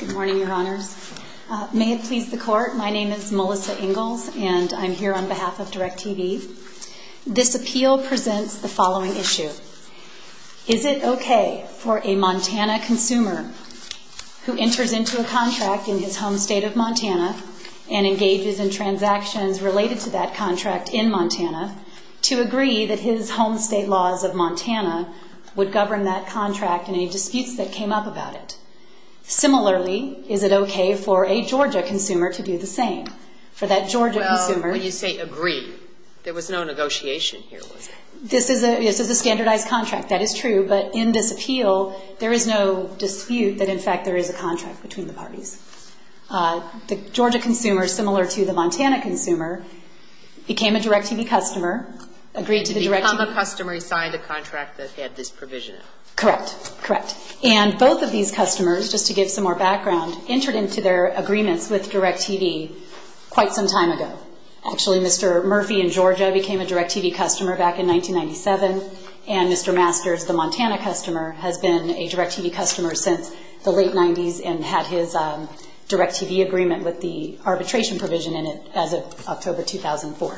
Good morning, Your Honors. May it please the Court, my name is Melissa Ingalls and I'm here on behalf of Directv. This appeal presents the following issue. Is it okay for a Montana consumer who enters into a contract in his home state of Montana and engages in transactions related to that contract in Montana to agree that his home state laws of Montana would govern that contract and any disputes that came up about it? Similarly, is it okay for a Georgia consumer to do the same? Well, when you say agree, there was no negotiation here. This is a standardized contract, that is true, but in this appeal there is no dispute that in fact there is a contract between the parties. The Georgia consumer, similar to the Montana consumer, became a Directv customer, agreed to the Directv Become a customer, signed a contract that had this provision. Correct, correct. And both of these customers, just to give some more background, entered into their agreements with Directv quite some time ago. Actually, Mr. Murphy in Georgia became a Directv customer back in 1997, and Mr. Masters, the Montana customer, has been a Directv customer since the late 90s and had his Directv agreement with the arbitration provision in it as of October 2004.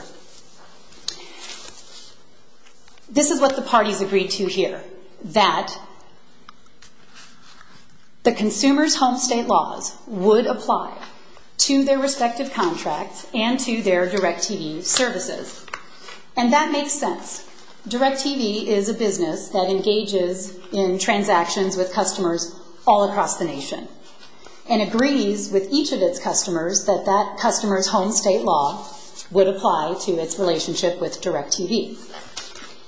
This is what the parties agreed to here, that the consumer's home state laws would apply to their respective contracts and to their Directv services. And that makes sense. Directv is a business that engages in transactions with customers all across the nation and agrees with each of its customers that that customer's home state law would apply to its relationship with Directv.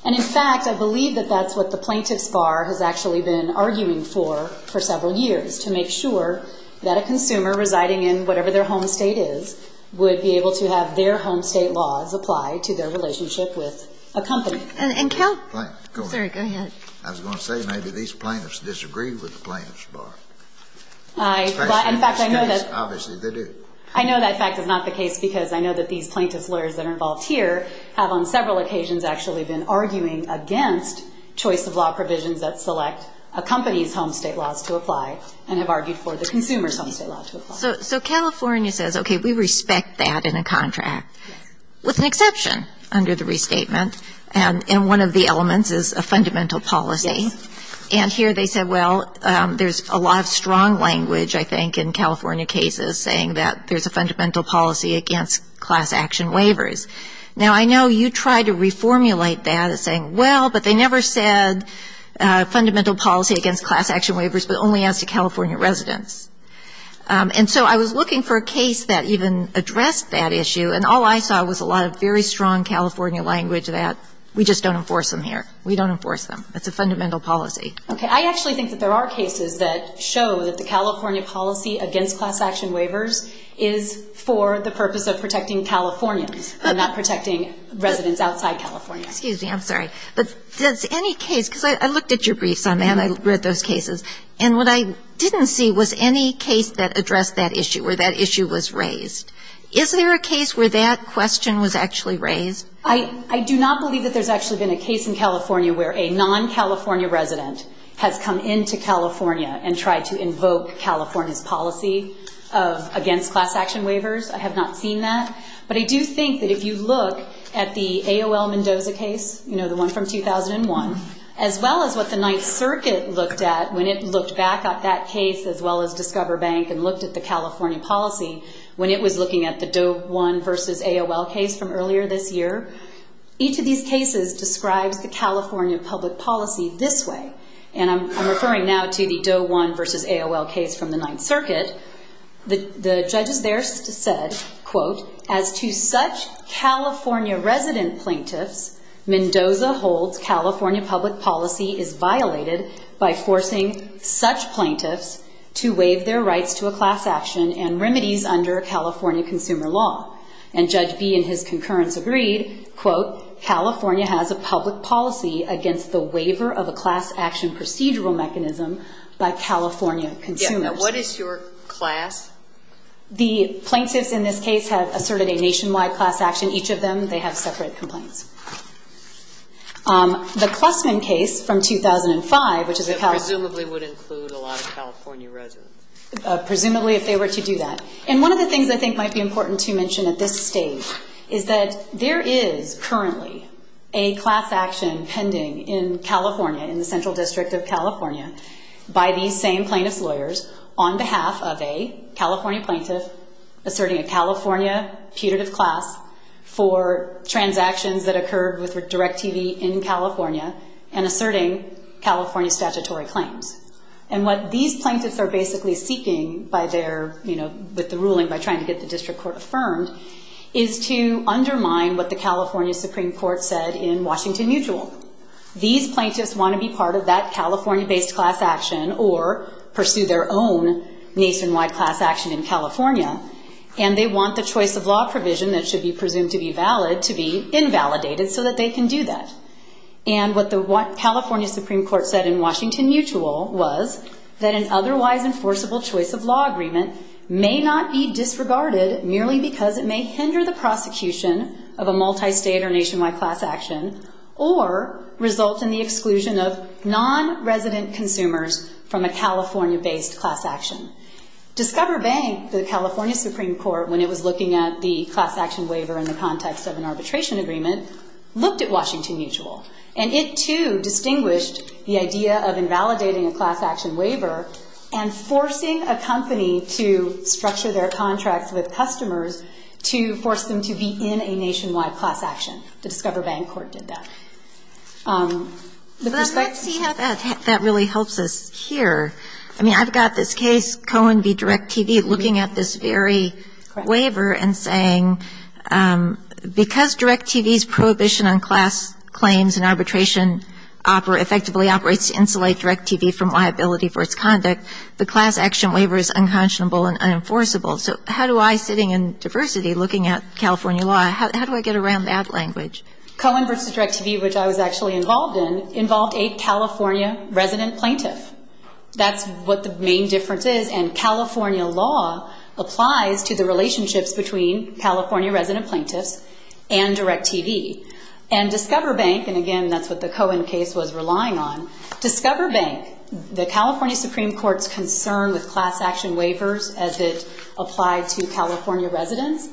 And in fact, I believe that that's what the plaintiff's bar has actually been arguing for for several years, to make sure that a consumer residing in whatever their home state is would be able to have their home state laws apply to their relationship with a company. I was going to say maybe these plaintiffs disagreed with the plaintiff's bar. In fact, I know that. Obviously, they do. I know that fact is not the case because I know that these plaintiff's lawyers that are involved here have on several occasions actually been arguing against choice of law provisions that select a company's home state laws to apply and have argued for the consumer's home state law to apply. So California says, okay, we respect that in a contract, with an exception under the restatement. And one of the elements is a fundamental policy. Yes. And here they said, well, there's a lot of strong language, I think, in California cases saying that there's a fundamental policy against class action waivers. Now, I know you tried to reformulate that as saying, well, but they never said fundamental policy against class action waivers, but only as to California residents. And so I was looking for a case that even addressed that issue, and all I saw was a lot of very strong California language that we just don't enforce them here. We don't enforce them. It's a fundamental policy. Okay. I actually think that there are cases that show that the California policy against class action waivers is for the purpose of protecting Californians and not protecting residents outside California. Excuse me. I'm sorry. But does any case ‑‑ because I looked at your briefs on that. I read those cases. And what I didn't see was any case that addressed that issue or that issue was raised. Is there a case where that question was actually raised? I do not believe that there's actually been a case in California where a non‑California resident has come into California and tried to invoke California's policy against class action waivers. I have not seen that. But I do think that if you look at the AOL Mendoza case, you know, the one from 2001, as well as what the Ninth Circuit looked at when it looked back at that case as well as Discover Bank and looked at the California policy when it was looking at the Doe 1 v. AOL case from earlier this year, each of these cases describes the California public policy this way. And I'm referring now to the Doe 1 v. AOL case from the Ninth Circuit. The judges there said, quote, as to such California resident plaintiffs, Mendoza holds California public policy is violated by forcing such plaintiffs to waive their rights to a class action and remedies under California consumer law. And Judge Bee and his concurrence agreed, quote, California has a public policy against the waiver of a class action procedural mechanism by California consumers. Now, what is your class? The plaintiffs in this case have asserted a nationwide class action. Each of them, they have separate complaints. The Klussman case from 2005, which is a California... Presumably would include a lot of California residents. Presumably if they were to do that. And one of the things I think might be important to mention at this stage is that there is currently a class action pending in California, in the Central District of California, by these same plaintiff's lawyers on behalf of a California plaintiff asserting a California putative class for transactions that occurred with DirecTV in California and asserting California statutory claims. And what these plaintiffs are basically seeking by their, you know, with the ruling by trying to get the district court affirmed is to undermine what the California Supreme Court said in Washington Mutual. These plaintiffs want to be part of that California-based class action or pursue their own nationwide class action in California and they want the choice of law provision that should be presumed to be valid to be invalidated so that they can do that. And what the California Supreme Court said in Washington Mutual was that an otherwise enforceable choice of law agreement may not be disregarded merely because it may hinder the prosecution of a multi-state or nationwide class action or result in the exclusion of non-resident consumers from a California-based class action. Discover Bank, the California Supreme Court, when it was looking at the class action waiver in the context of an arbitration agreement, looked at Washington Mutual. And it, too, distinguished the idea of invalidating a class action waiver and forcing a company to structure their contracts with customers to force them to be in a nationwide class action. The Discover Bank court did that. The perspective of that really helps us here. I mean, I've got this case, Cohen v. DirecTV, looking at this very waiver and saying, because DirecTV's prohibition on class claims and arbitration effectively operates to insulate DirecTV from liability for its conduct, the class action waiver is unconscionable and unenforceable. So how do I, sitting in diversity, looking at California law, how do I get around that language? Cohen v. DirecTV, which I was actually involved in, involved a California resident plaintiff. That's what the main difference is. And California law applies to the relationships between California resident plaintiffs and DirecTV. And Discover Bank, and again, that's what the Cohen case was relying on, Discover Bank, the California Supreme Court's concern with class action waivers as it applied to California residents,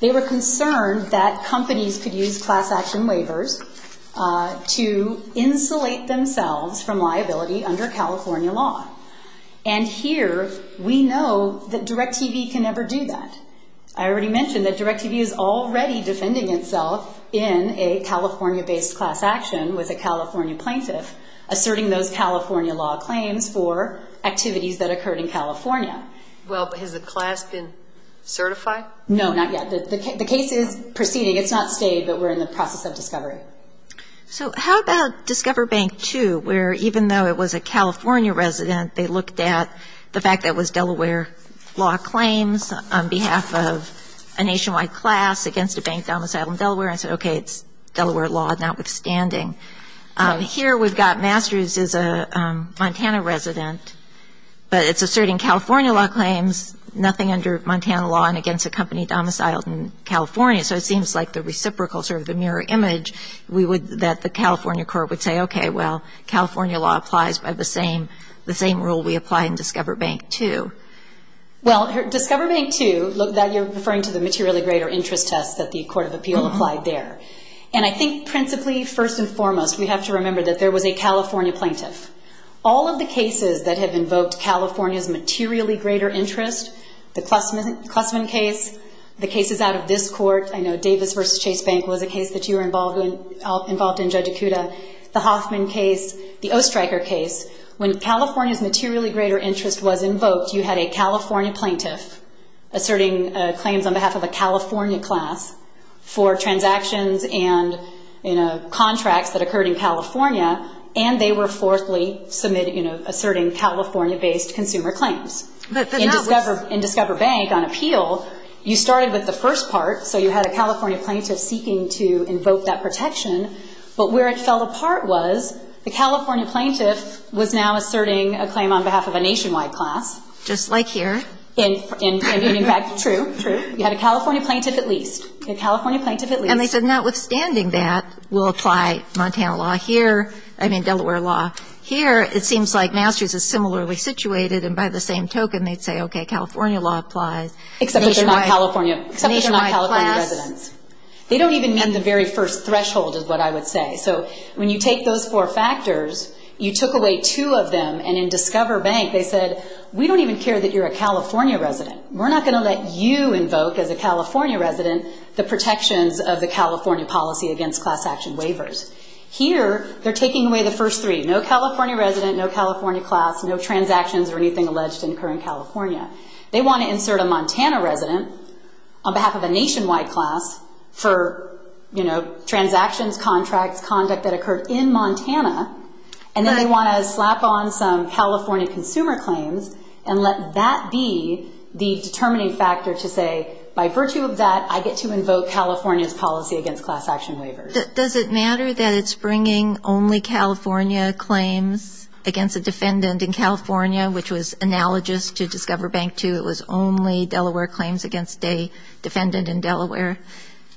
they were concerned that companies could use class action waivers to insulate themselves from liability under California law. And here, we know that DirecTV can never do that. And I already mentioned that DirecTV is already defending itself in a California-based class action with a California plaintiff, asserting those California law claims for activities that occurred in California. Well, has the class been certified? No, not yet. The case is proceeding. It's not stayed, but we're in the process of discovery. So how about Discover Bank 2, where even though it was a California resident, they looked at the fact that it was Delaware law claims on behalf of a nationwide class against a bank domiciled in Delaware and said, okay, it's Delaware law notwithstanding. Here, we've got Masters as a Montana resident, but it's asserting California law claims, nothing under Montana law and against a company domiciled in California. So it seems like the reciprocal, sort of the mirror image, that the California court would say, okay, well, that's the same rule we apply in Discover Bank 2. Well, Discover Bank 2, you're referring to the materially greater interest test that the Court of Appeal applied there. And I think principally, first and foremost, we have to remember that there was a California plaintiff. All of the cases that have invoked California's materially greater interest, the Klussman case, the cases out of this court, I know Davis v. Chase Bank was a case that you were involved in, Judge Ikuda, the Hoffman case, the Oestreicher case, when California's materially greater interest was invoked, you had a California plaintiff asserting claims on behalf of a California class for transactions and contracts that occurred in California, and they were forthly asserting California-based consumer claims. In Discover Bank on appeal, you started with the first part, so you had a California plaintiff seeking to invoke that protection, but where it fell apart was the California plaintiff was now asserting a claim on behalf of a nationwide class. Just like here. And, in fact, true. You had a California plaintiff at least, a California plaintiff at least. And they said, notwithstanding that, we'll apply Montana law here, I mean Delaware law here. It seems like Masters is similarly situated, and by the same token they'd say, okay, California law applies. Except they're not California residents. They don't even meet the very first threshold is what I would say. So when you take those four factors, you took away two of them, and in Discover Bank they said, we don't even care that you're a California resident. We're not going to let you invoke, as a California resident, the protections of the California policy against class action waivers. Here they're taking away the first three, no California resident, no California class, no transactions or anything alleged to occur in California. They want to insert a Montana resident on behalf of a nationwide class for transactions, contracts, conduct that occurred in Montana, and then they want to slap on some California consumer claims and let that be the determining factor to say, by virtue of that, I get to invoke California's policy against class action waivers. Does it matter that it's bringing only California claims against a defendant in California, which was analogous to Discover Bank II? It was only Delaware claims against a defendant in Delaware.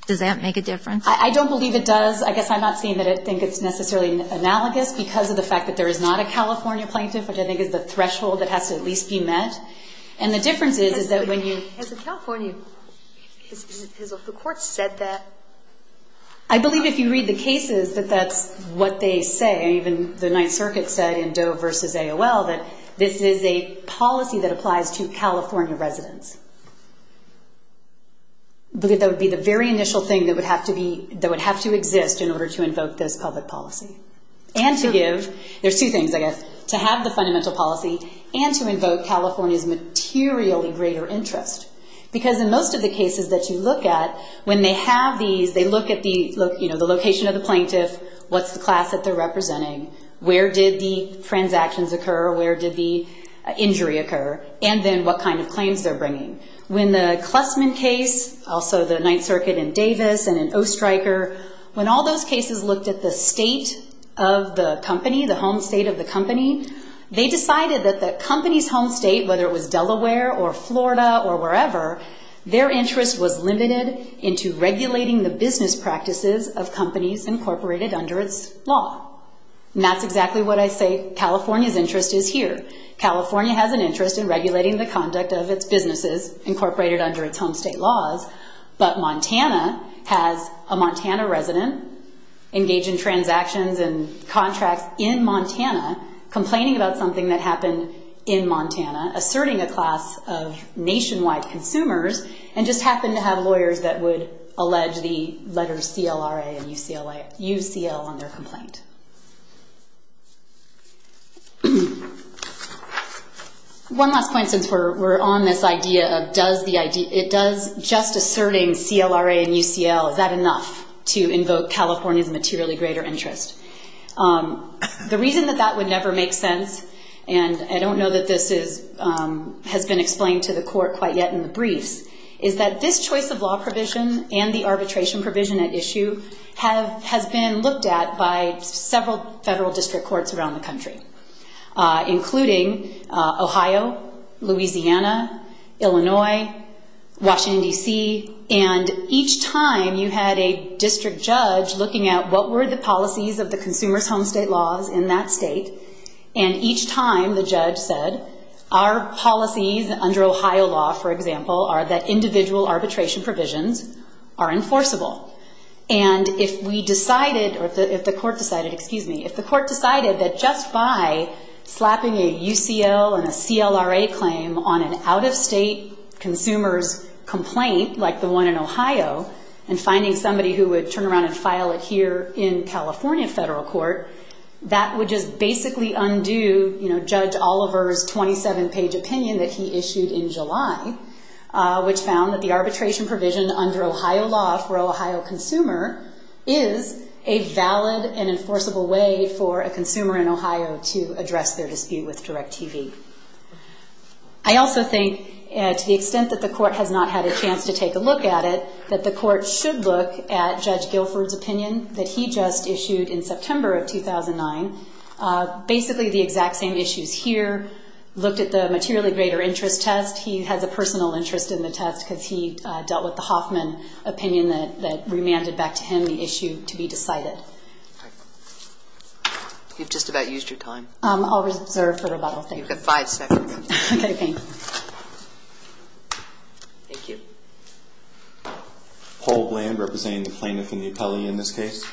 Does that make a difference? I don't believe it does. I guess I'm not saying that I think it's necessarily analogous because of the fact that there is not a California plaintiff, which I think is the threshold that has to at least be met. And the difference is, is that when you ---- As a California, has the Court said that? I believe if you read the cases that that's what they say. Even the Ninth Circuit said in Doe v. AOL that this is a policy that applies to California residents. I believe that would be the very initial thing that would have to be ---- that would have to exist in order to invoke this public policy. And to give ---- there's two things, I guess. To have the fundamental policy and to invoke California's materially greater interest. Because in most of the cases that you look at, when they have these, they look at the location of the plaintiff, what's the class that they're representing, where did the transactions occur, where did the injury occur, and then what kind of claims they're bringing. When the Klussman case, also the Ninth Circuit in Davis and in Oestreicher, when all those cases looked at the state of the company, the home state of the company, they decided that the company's home state, whether it was Delaware or Florida or wherever, their interest was limited into regulating the business practices of companies incorporated under its law. And that's exactly what I say California's interest is here. California has an interest in regulating the conduct of its businesses incorporated under its home state laws, but Montana has a Montana resident engaged in transactions and contracts in Montana, complaining about something that happened in Montana, asserting a class of nationwide consumers, and just happened to have lawyers that would allege the letters CLRA and UCL on their complaint. One last point since we're on this idea of does just asserting CLRA and UCL, is that enough to invoke California's materially greater interest? The reason that that would never make sense, and I don't know that this has been explained to the court quite yet in the briefs, is that this choice of law provision and the arbitration provision at issue has been looked at by several federal district courts around the country, including Ohio, Louisiana, Illinois, Washington, D.C., and each time you had a district judge looking at what were the policies of the consumer's home state laws in that state, and each time the judge said our policies under Ohio law, for example, are that individual arbitration provisions are enforceable. And if we decided, or if the court decided, excuse me, if the court decided that just by slapping a UCL and a CLRA claim on an out-of-state consumer's complaint, like the one in Ohio, and finding somebody who would turn around and file it here in California federal court, that would just basically undo Judge Oliver's 27-page opinion that he issued in July, which found that the arbitration provision under Ohio law for an Ohio consumer is a valid and enforceable way for a consumer in Ohio to address their dispute with DIRECTV. I also think, to the extent that the court has not had a chance to take a look at it, that the court should look at Judge Guilford's opinion that he just issued in September of 2009, basically the exact same issues here, looked at the materially greater interest test. He has a personal interest in the test because he dealt with the Hoffman opinion that remanded back to him the issue to be decided. You've just about used your time. I'll reserve for rebuttal. You've got five seconds. Okay, thanks. Thank you. Paul Bland, representing the plaintiff and the appellee in this case.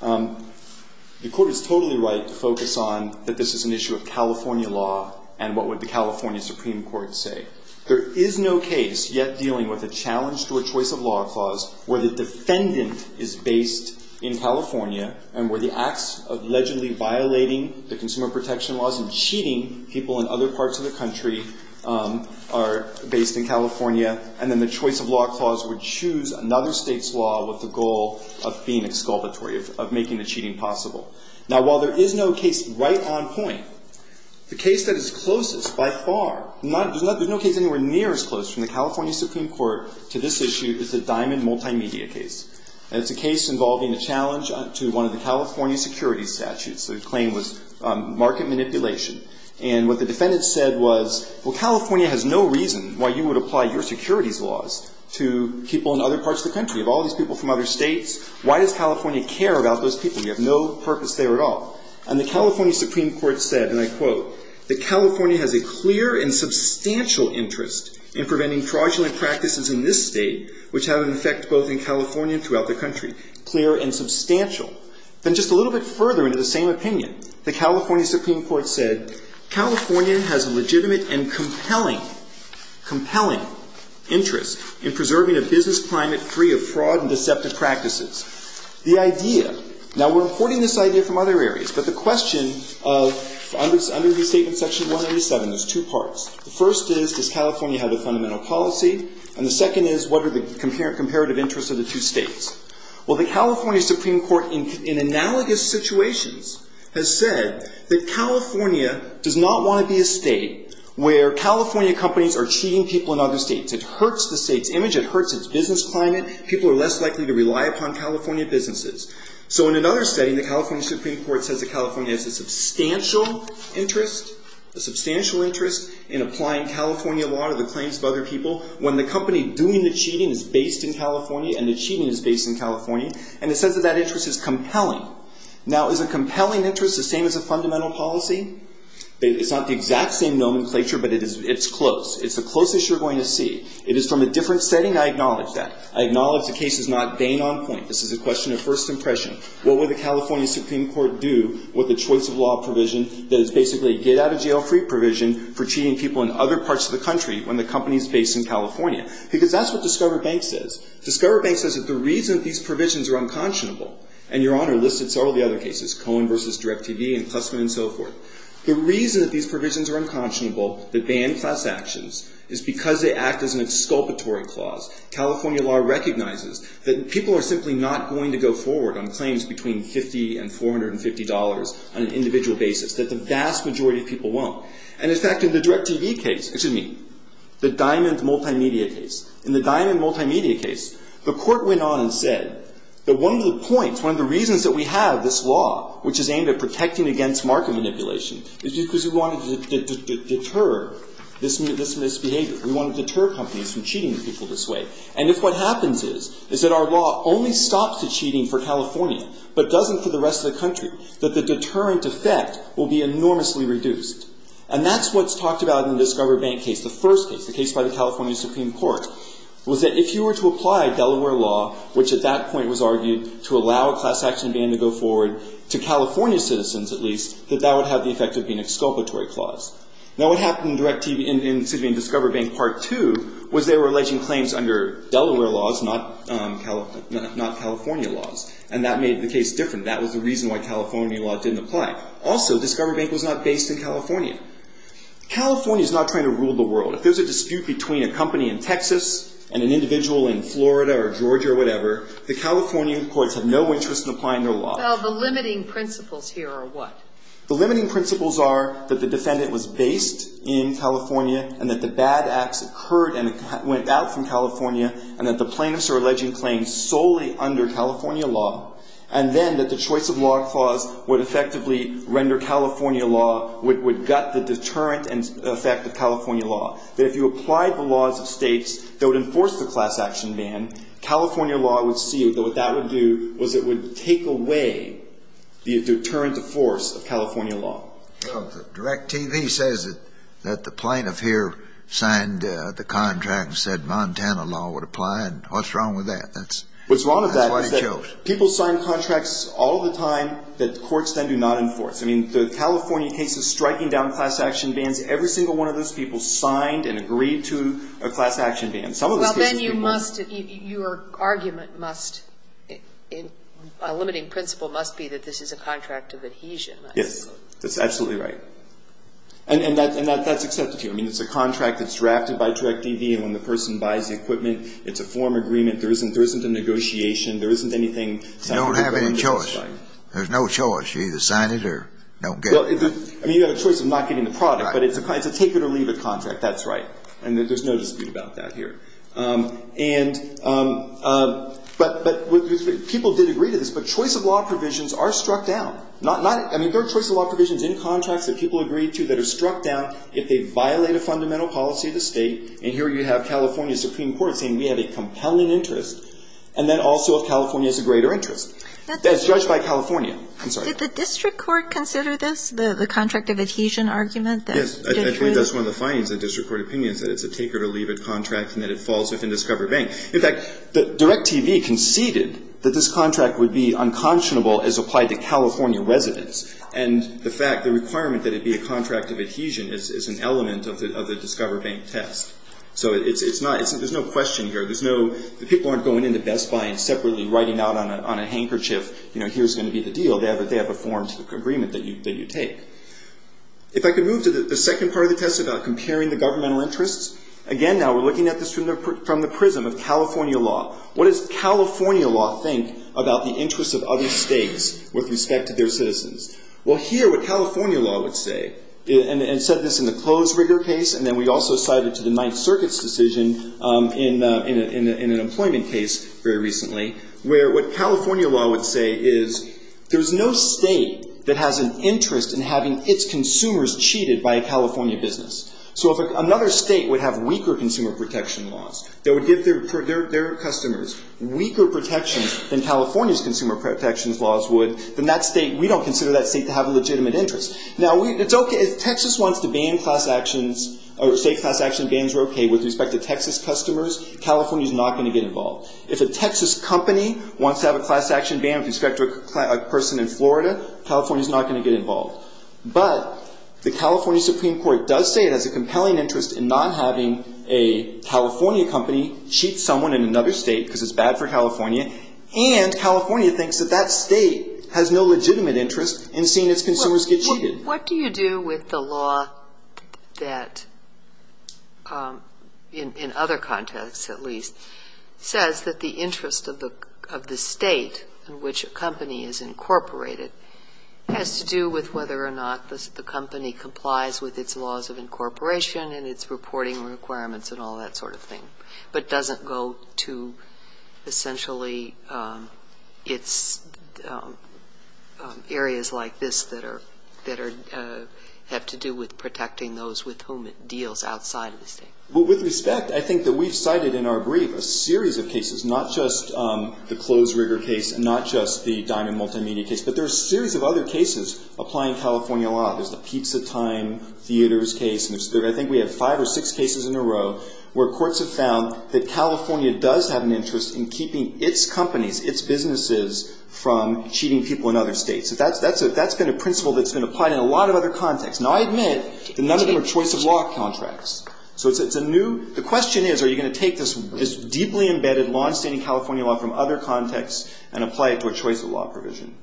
The court is totally right to focus on that this is an issue of California law and what would the California Supreme Court say. There is no case yet dealing with a challenge to a choice of law clause where the defendant is based in California and where the acts of allegedly violating the consumer protection laws and cheating people in other parts of the country are based in California, and then the choice of law clause would choose another state's law with the goal of being exculpatory, of making the cheating possible. Now, while there is no case right on point, the case that is closest by far, there's no case anywhere near as close from the California Supreme Court to this issue is the Diamond Multimedia case, and it's a case involving a challenge to one of the California securities statutes. The claim was market manipulation, and what the defendant said was, well, California has no reason why you would apply your securities laws to people in other parts of the country. You have all these people from other states. Why does California care about those people? You have no purpose there at all. And the California Supreme Court said, and I quote, that California has a clear and substantial interest in preventing fraudulent practices in this state, which have an effect both in California and throughout the country. Clear and substantial. Then just a little bit further into the same opinion, the California Supreme Court said, California has a legitimate and compelling, compelling interest in preserving a business climate free of fraud and deceptive practices. The idea, now we're importing this idea from other areas, but the question of, under the statement section 187, there's two parts. The first is, does California have a fundamental policy? And the second is, what are the comparative interests of the two states? Well, the California Supreme Court, in analogous situations, has said that California does not want to be a state where California companies are cheating people in other states. It hurts the state's image. It hurts its business climate. People are less likely to rely upon California businesses. So in another setting, the California Supreme Court says that California has a substantial interest, a substantial interest in applying California law to the claims of other people when the company doing the cheating is based in California and the cheating is based in California. And it says that that interest is compelling. Now, is a compelling interest the same as a fundamental policy? It's not the exact same nomenclature, but it's close. It's the closest you're going to see. It is from a different setting. I acknowledge that. I acknowledge the case is not Bain on point. This is a question of first impression. What would the California Supreme Court do with a choice of law provision that is basically a get-out-of-jail-free provision for cheating people in other parts of the country when the company is based in California? Because that's what Discover Bank says. Discover Bank says that the reason these provisions are unconscionable, and Your Honor listed several of the other cases, Cohen v. DirecTV and Klusman and so forth, the reason that these provisions are unconscionable, that ban class actions, is because they act as an exculpatory clause. California law recognizes that people are simply not going to go forward on claims between $50 and $450 on an individual basis, that the vast majority of people won't. And, in fact, in the DirecTV case, excuse me, the Diamond Multimedia case, in the Diamond Multimedia case, the court went on and said that one of the points, one of the reasons that we have this law, which is aimed at protecting against market manipulation, is because we wanted to deter this misbehavior. We wanted to deter companies from cheating people this way. And if what happens is that our law only stops the cheating for California but doesn't for the rest of the country, that the deterrent effect will be enormously reduced. And that's what's talked about in the Discover Bank case, the first case, the case by the California Supreme Court, was that if you were to apply Delaware law, which at that point was argued to allow a class action ban to go forward to California citizens, at least, that that would have the effect of being an exculpatory clause. Now, what happened in Discover Bank Part 2 was they were alleging claims under Delaware laws, not California laws. And that made the case different. That was the reason why California law didn't apply. Also, Discover Bank was not based in California. California is not trying to rule the world. If there's a dispute between a company in Texas and an individual in Florida or Georgia or whatever, the California courts have no interest in applying their law. Well, the limiting principles here are what? The limiting principles are that the defendant was based in California and that the bad acts occurred and went out from California and that the plaintiffs are alleging claims solely under California law, and then that the choice of law clause would effectively render California law, would gut the deterrent effect of California law. That if you applied the laws of states that would enforce the class action ban, California law would see that what that would do the deterrent to force of California law. Direct TV says that the plaintiff here signed the contract and said Montana law would apply, and what's wrong with that? What's wrong with that is that people sign contracts all the time that courts then do not enforce. I mean, the California case of striking down class action bans, every single one of those people signed and agreed to a class action ban. Well, then you must, your argument must, a limiting principle must be that this is a contract of adhesion. Yes, that's absolutely right. And that's accepted here. I mean, it's a contract that's drafted by Direct TV and when the person buys the equipment it's a form agreement. There isn't a negotiation. There isn't anything signed. You don't have any choice. There's no choice. You either sign it or don't get it. I mean, you have a choice of not getting the product, but it's a take-it-or-leave-it contract. That's right. And there's no dispute about that here. And but people did agree to this, but choice of law provisions are struck down. Not, I mean, there are choice of law provisions in contracts that people agree to that are struck down if they violate a fundamental policy of the State. And here you have California Supreme Court saying we have a compelling interest and then also if California has a greater interest. That's judged by California. I'm sorry. Did the district court consider this, the contract of adhesion argument? Yes. I think that's one of the findings of district court opinions, that it's a take-it-or-leave-it contract and that it falls within Discover Bank. In fact, DirecTV conceded that this contract would be unconscionable as applied to California residents. And the fact, the requirement that it be a contract of adhesion is an element of the Discover Bank test. So it's not, there's no question here. There's no, the people aren't going into Best Buy and separately writing out on a handkerchief, you know, here's going to be the deal. They have a form agreement that you take. If I could move to the second part of the test about comparing the governmental interests. Again, now we're looking at this from the prism of California law. What does California law think about the interests of other states with respect to their citizens? Well, here what California law would say, and it said this in the clothes rigger case and then we also cited to the Ninth Circuit's decision in an employment case very recently, where what California law would say is there's no state that has an interest in having its consumers cheated by a California business. So if another state would have weaker consumer protection laws that would give their customers weaker protections than California's consumer protections laws would, then that state, we don't consider that state to have a legitimate interest. Now, it's okay, if Texas wants to ban class actions or state class action bans are okay with respect to Texas customers, California's not going to get involved. If a Texas company wants to have a class action ban with respect to a person in Florida, California's not going to get involved. But the California Supreme Court does say it has a compelling interest in not having a California company cheat someone in another state because it's bad for California, and California thinks that that state has no legitimate interest in seeing its consumers get cheated. What do you do with the law that, in other contexts at least, says that the interest of the state in which a company is incorporated has to do with whether or not the company complies with its laws of incorporation and its reporting requirements and all that sort of thing, but doesn't go to essentially its areas like this that have to do with protecting those with whom it deals outside of the state? With respect, I think that we've cited in our brief a series of cases, not just the Clothes Rigger case and not just the Diamond Multimedia case, but there are a series of other cases applying California law. There's the Pizza Time Theaters case, and I think we have five or six cases in a row where courts have found that California does have an interest in keeping its companies, its businesses, from cheating people in other states. That's been a principle that's been applied in a lot of other contexts. Now, I admit that none of them are choice of law contracts. So the question is, are you going to take this deeply embedded, longstanding California law from other contexts and apply it to a choice of law provision?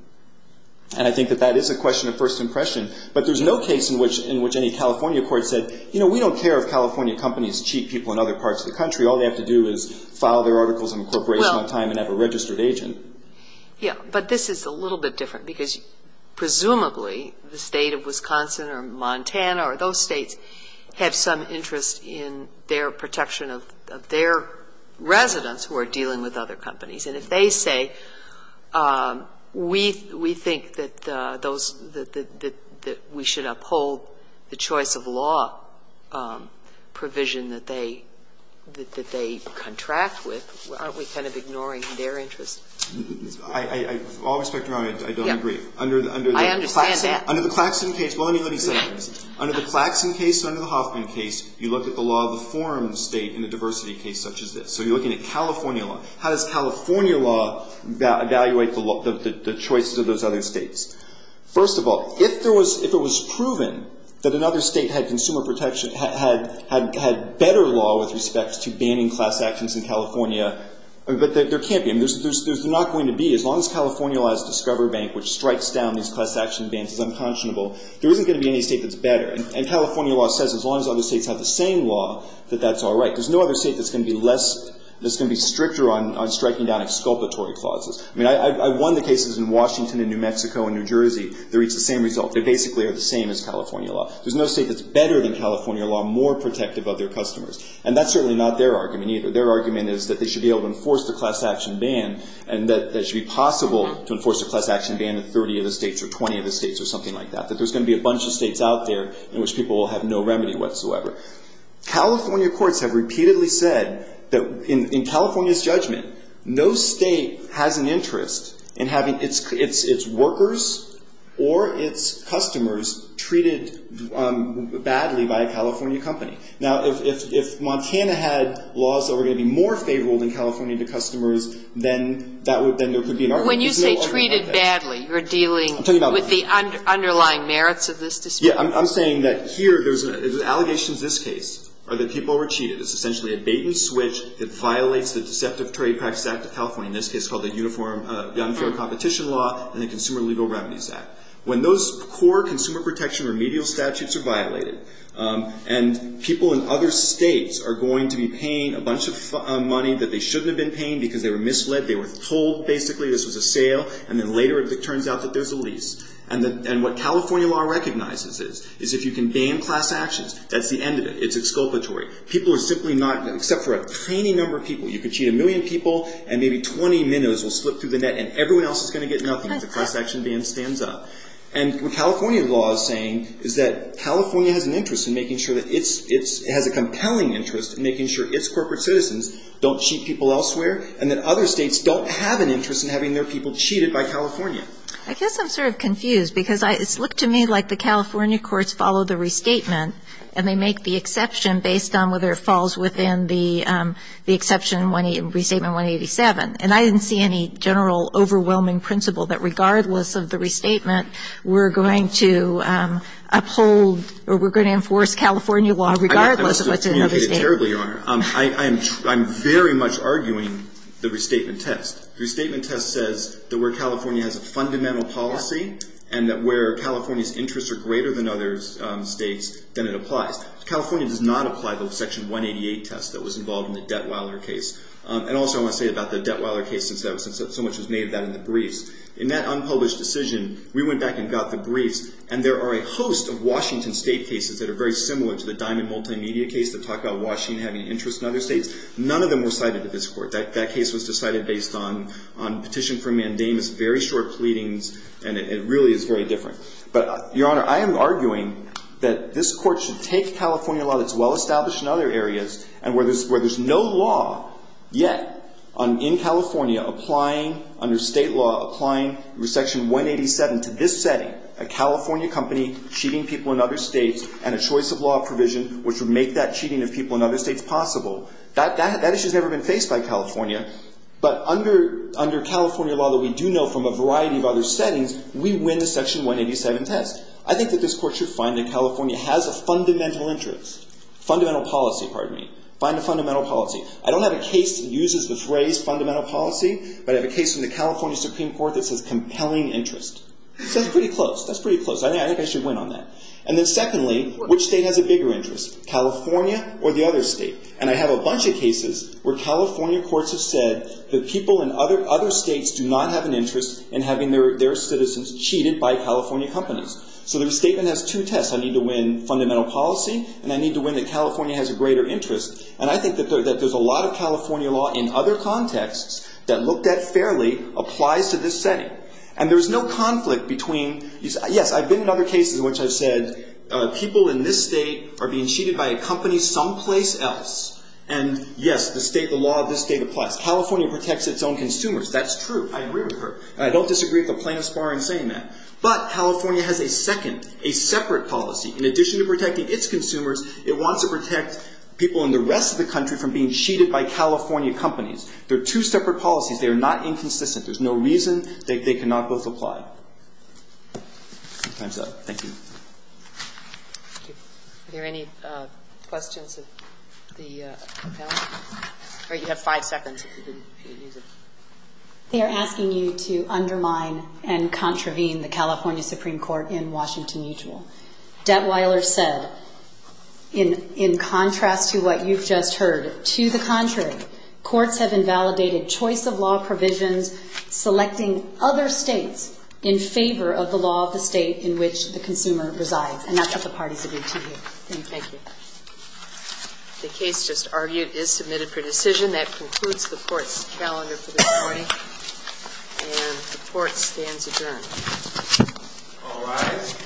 And I think that that is a question of first impression, but there's no case in which any California court said, you know, we don't care if California companies cheat people in other parts of the country. All they have to do is file their articles of incorporation on time and have a registered agent. Yeah, but this is a little bit different because presumably the state of Wisconsin or Montana or those states have some interest in their protection of their residents who are dealing with other companies. And if they say, we think that those, that we should uphold the choice of law provision that they, that they contract with, aren't we kind of ignoring their interest? With all respect, Your Honor, I don't agree. I understand that. Under the Claxton case, well, let me say this. Under the Claxton case and under the Hoffman case, you look at the law of the forum state in a diversity case such as this. So you're looking at California law. How does California law evaluate the choices of those other states? First of all, if there was, if it was proven that another state had consumer protection, had better law with respect to banning class actions in California, but there can't be. There's not going to be. As long as California law has Discover Bank, which strikes down these class action bans as unconscionable, there isn't going to be any state that's better. And California law says as long as other states have the same law, that that's all right. There's no other state that's going to be less, that's going to be stricter on striking down exculpatory clauses. I mean, I've won the cases in Washington and New Mexico and New Jersey that reach the same result. They basically are the same as California law. There's no state that's better than California law, more protective of their customers. And that's certainly not their argument either. Their argument is that they should be able to enforce the class action ban and that it should be possible to enforce a class action ban in 30 of the states or 20 of the states or something like that, that there's going to be a bunch of states out there in which people will have no remedy whatsoever. California courts have repeatedly said that in California's judgment, no state has an interest in having its workers or its customers treated badly by a California company. Now, if Montana had laws that were going to be more favorable than California to customers, then there could be an argument. But when you say treated badly, you're dealing with the underlying merits of this dispute. Yeah. I'm saying that here there's allegations in this case are that people were cheated. It's essentially a bait and switch that violates the Deceptive Trade Practice Act of California, in this case called the Uniform Competition Law and the Consumer Legal Remedies Act. When those core consumer protection remedial statutes are violated and people in other states are going to be paying a bunch of money that they shouldn't have been paying because they were misled, they were told basically this was a sale, and then later it turns out that there's a lease. And what California law recognizes is if you can ban class actions, that's the end of it. It's exculpatory. People are simply not, except for a tiny number of people, you can cheat a million people and maybe 20 minnows will slip through the net and everyone else is going to get nothing. The class action ban stands up. And what California law is saying is that California has an interest in making sure that it has a compelling interest in making sure its corporate citizens don't cheat people elsewhere, and that other states don't have an interest in having their people cheated by California. I guess I'm sort of confused because it's looked to me like the California courts follow the restatement and they make the exception based on whether it falls within the exception in Restatement 187. And I didn't see any general overwhelming principle that regardless of the restatement, we're going to uphold or we're going to enforce California law regardless of what's in another state. I'm very much arguing the restatement test. The restatement test says that where California has a fundamental policy and that where California's interests are greater than other states, then it applies. California does not apply the Section 188 test that was involved in the Detweiler case. And also I want to say about the Detweiler case since so much was made of that in the briefs. In that unpublished decision, we went back and got the briefs, and there are a host of Washington State cases that are very similar to the Diamond Multimedia case that talk about Washington having an interest in other states. None of them were cited in this court. That case was decided based on petition for mandamus, very short pleadings, and it really is very different. But, Your Honor, I am arguing that this court should take California law that's well-established in other areas and where there's no law yet in California applying under state law, applying Section 187 to this setting, a California company cheating people in other states, and a choice of law provision which would make that cheating of people in other states possible. That issue has never been faced by California. But under California law that we do know from a variety of other settings, we win the Section 187 test. I think that this court should find that California has a fundamental interest. Fundamental policy, pardon me. Find a fundamental policy. I don't have a case that uses the phrase fundamental policy, but I have a case from the California Supreme Court that says compelling interest. That's pretty close. That's pretty close. I think I should win on that. And then secondly, which state has a bigger interest, California or the other state? And I have a bunch of cases where California courts have said that people in other states do not have an interest in having their citizens cheated by California companies. So their statement has two tests. I need to win fundamental policy, and I need to win that California has a greater interest, and I think that there's a lot of California law in other contexts that looked at fairly applies to this setting. And there's no conflict between, yes, I've been in other cases in which I've said people in this state are being cheated by a company someplace else. And, yes, the state, the law of this state applies. California protects its own consumers. That's true. I agree with her. I don't disagree with the plaintiff's bar in saying that. But California has a second, a separate policy. In addition to protecting its consumers, it wants to protect people in the rest of the country from being cheated by California companies. They're two separate policies. They are not inconsistent. There's no reason they cannot both apply. Time's up. Thank you. Thank you. Are there any questions of the panel? All right. You have five seconds if you didn't use it. They are asking you to undermine and contravene the California Supreme Court in Washington Mutual. Detweiler said, in contrast to what you've just heard, to the contrary, courts have invalidated choice of law provisions selecting other states in favor of the law of the state in which the consumer resides. And that's what the parties have agreed to here. Thank you. The case just argued is submitted for decision. That concludes the Court's calendar for this morning. And the Court stands adjourned. All rise. The Court is adjourned.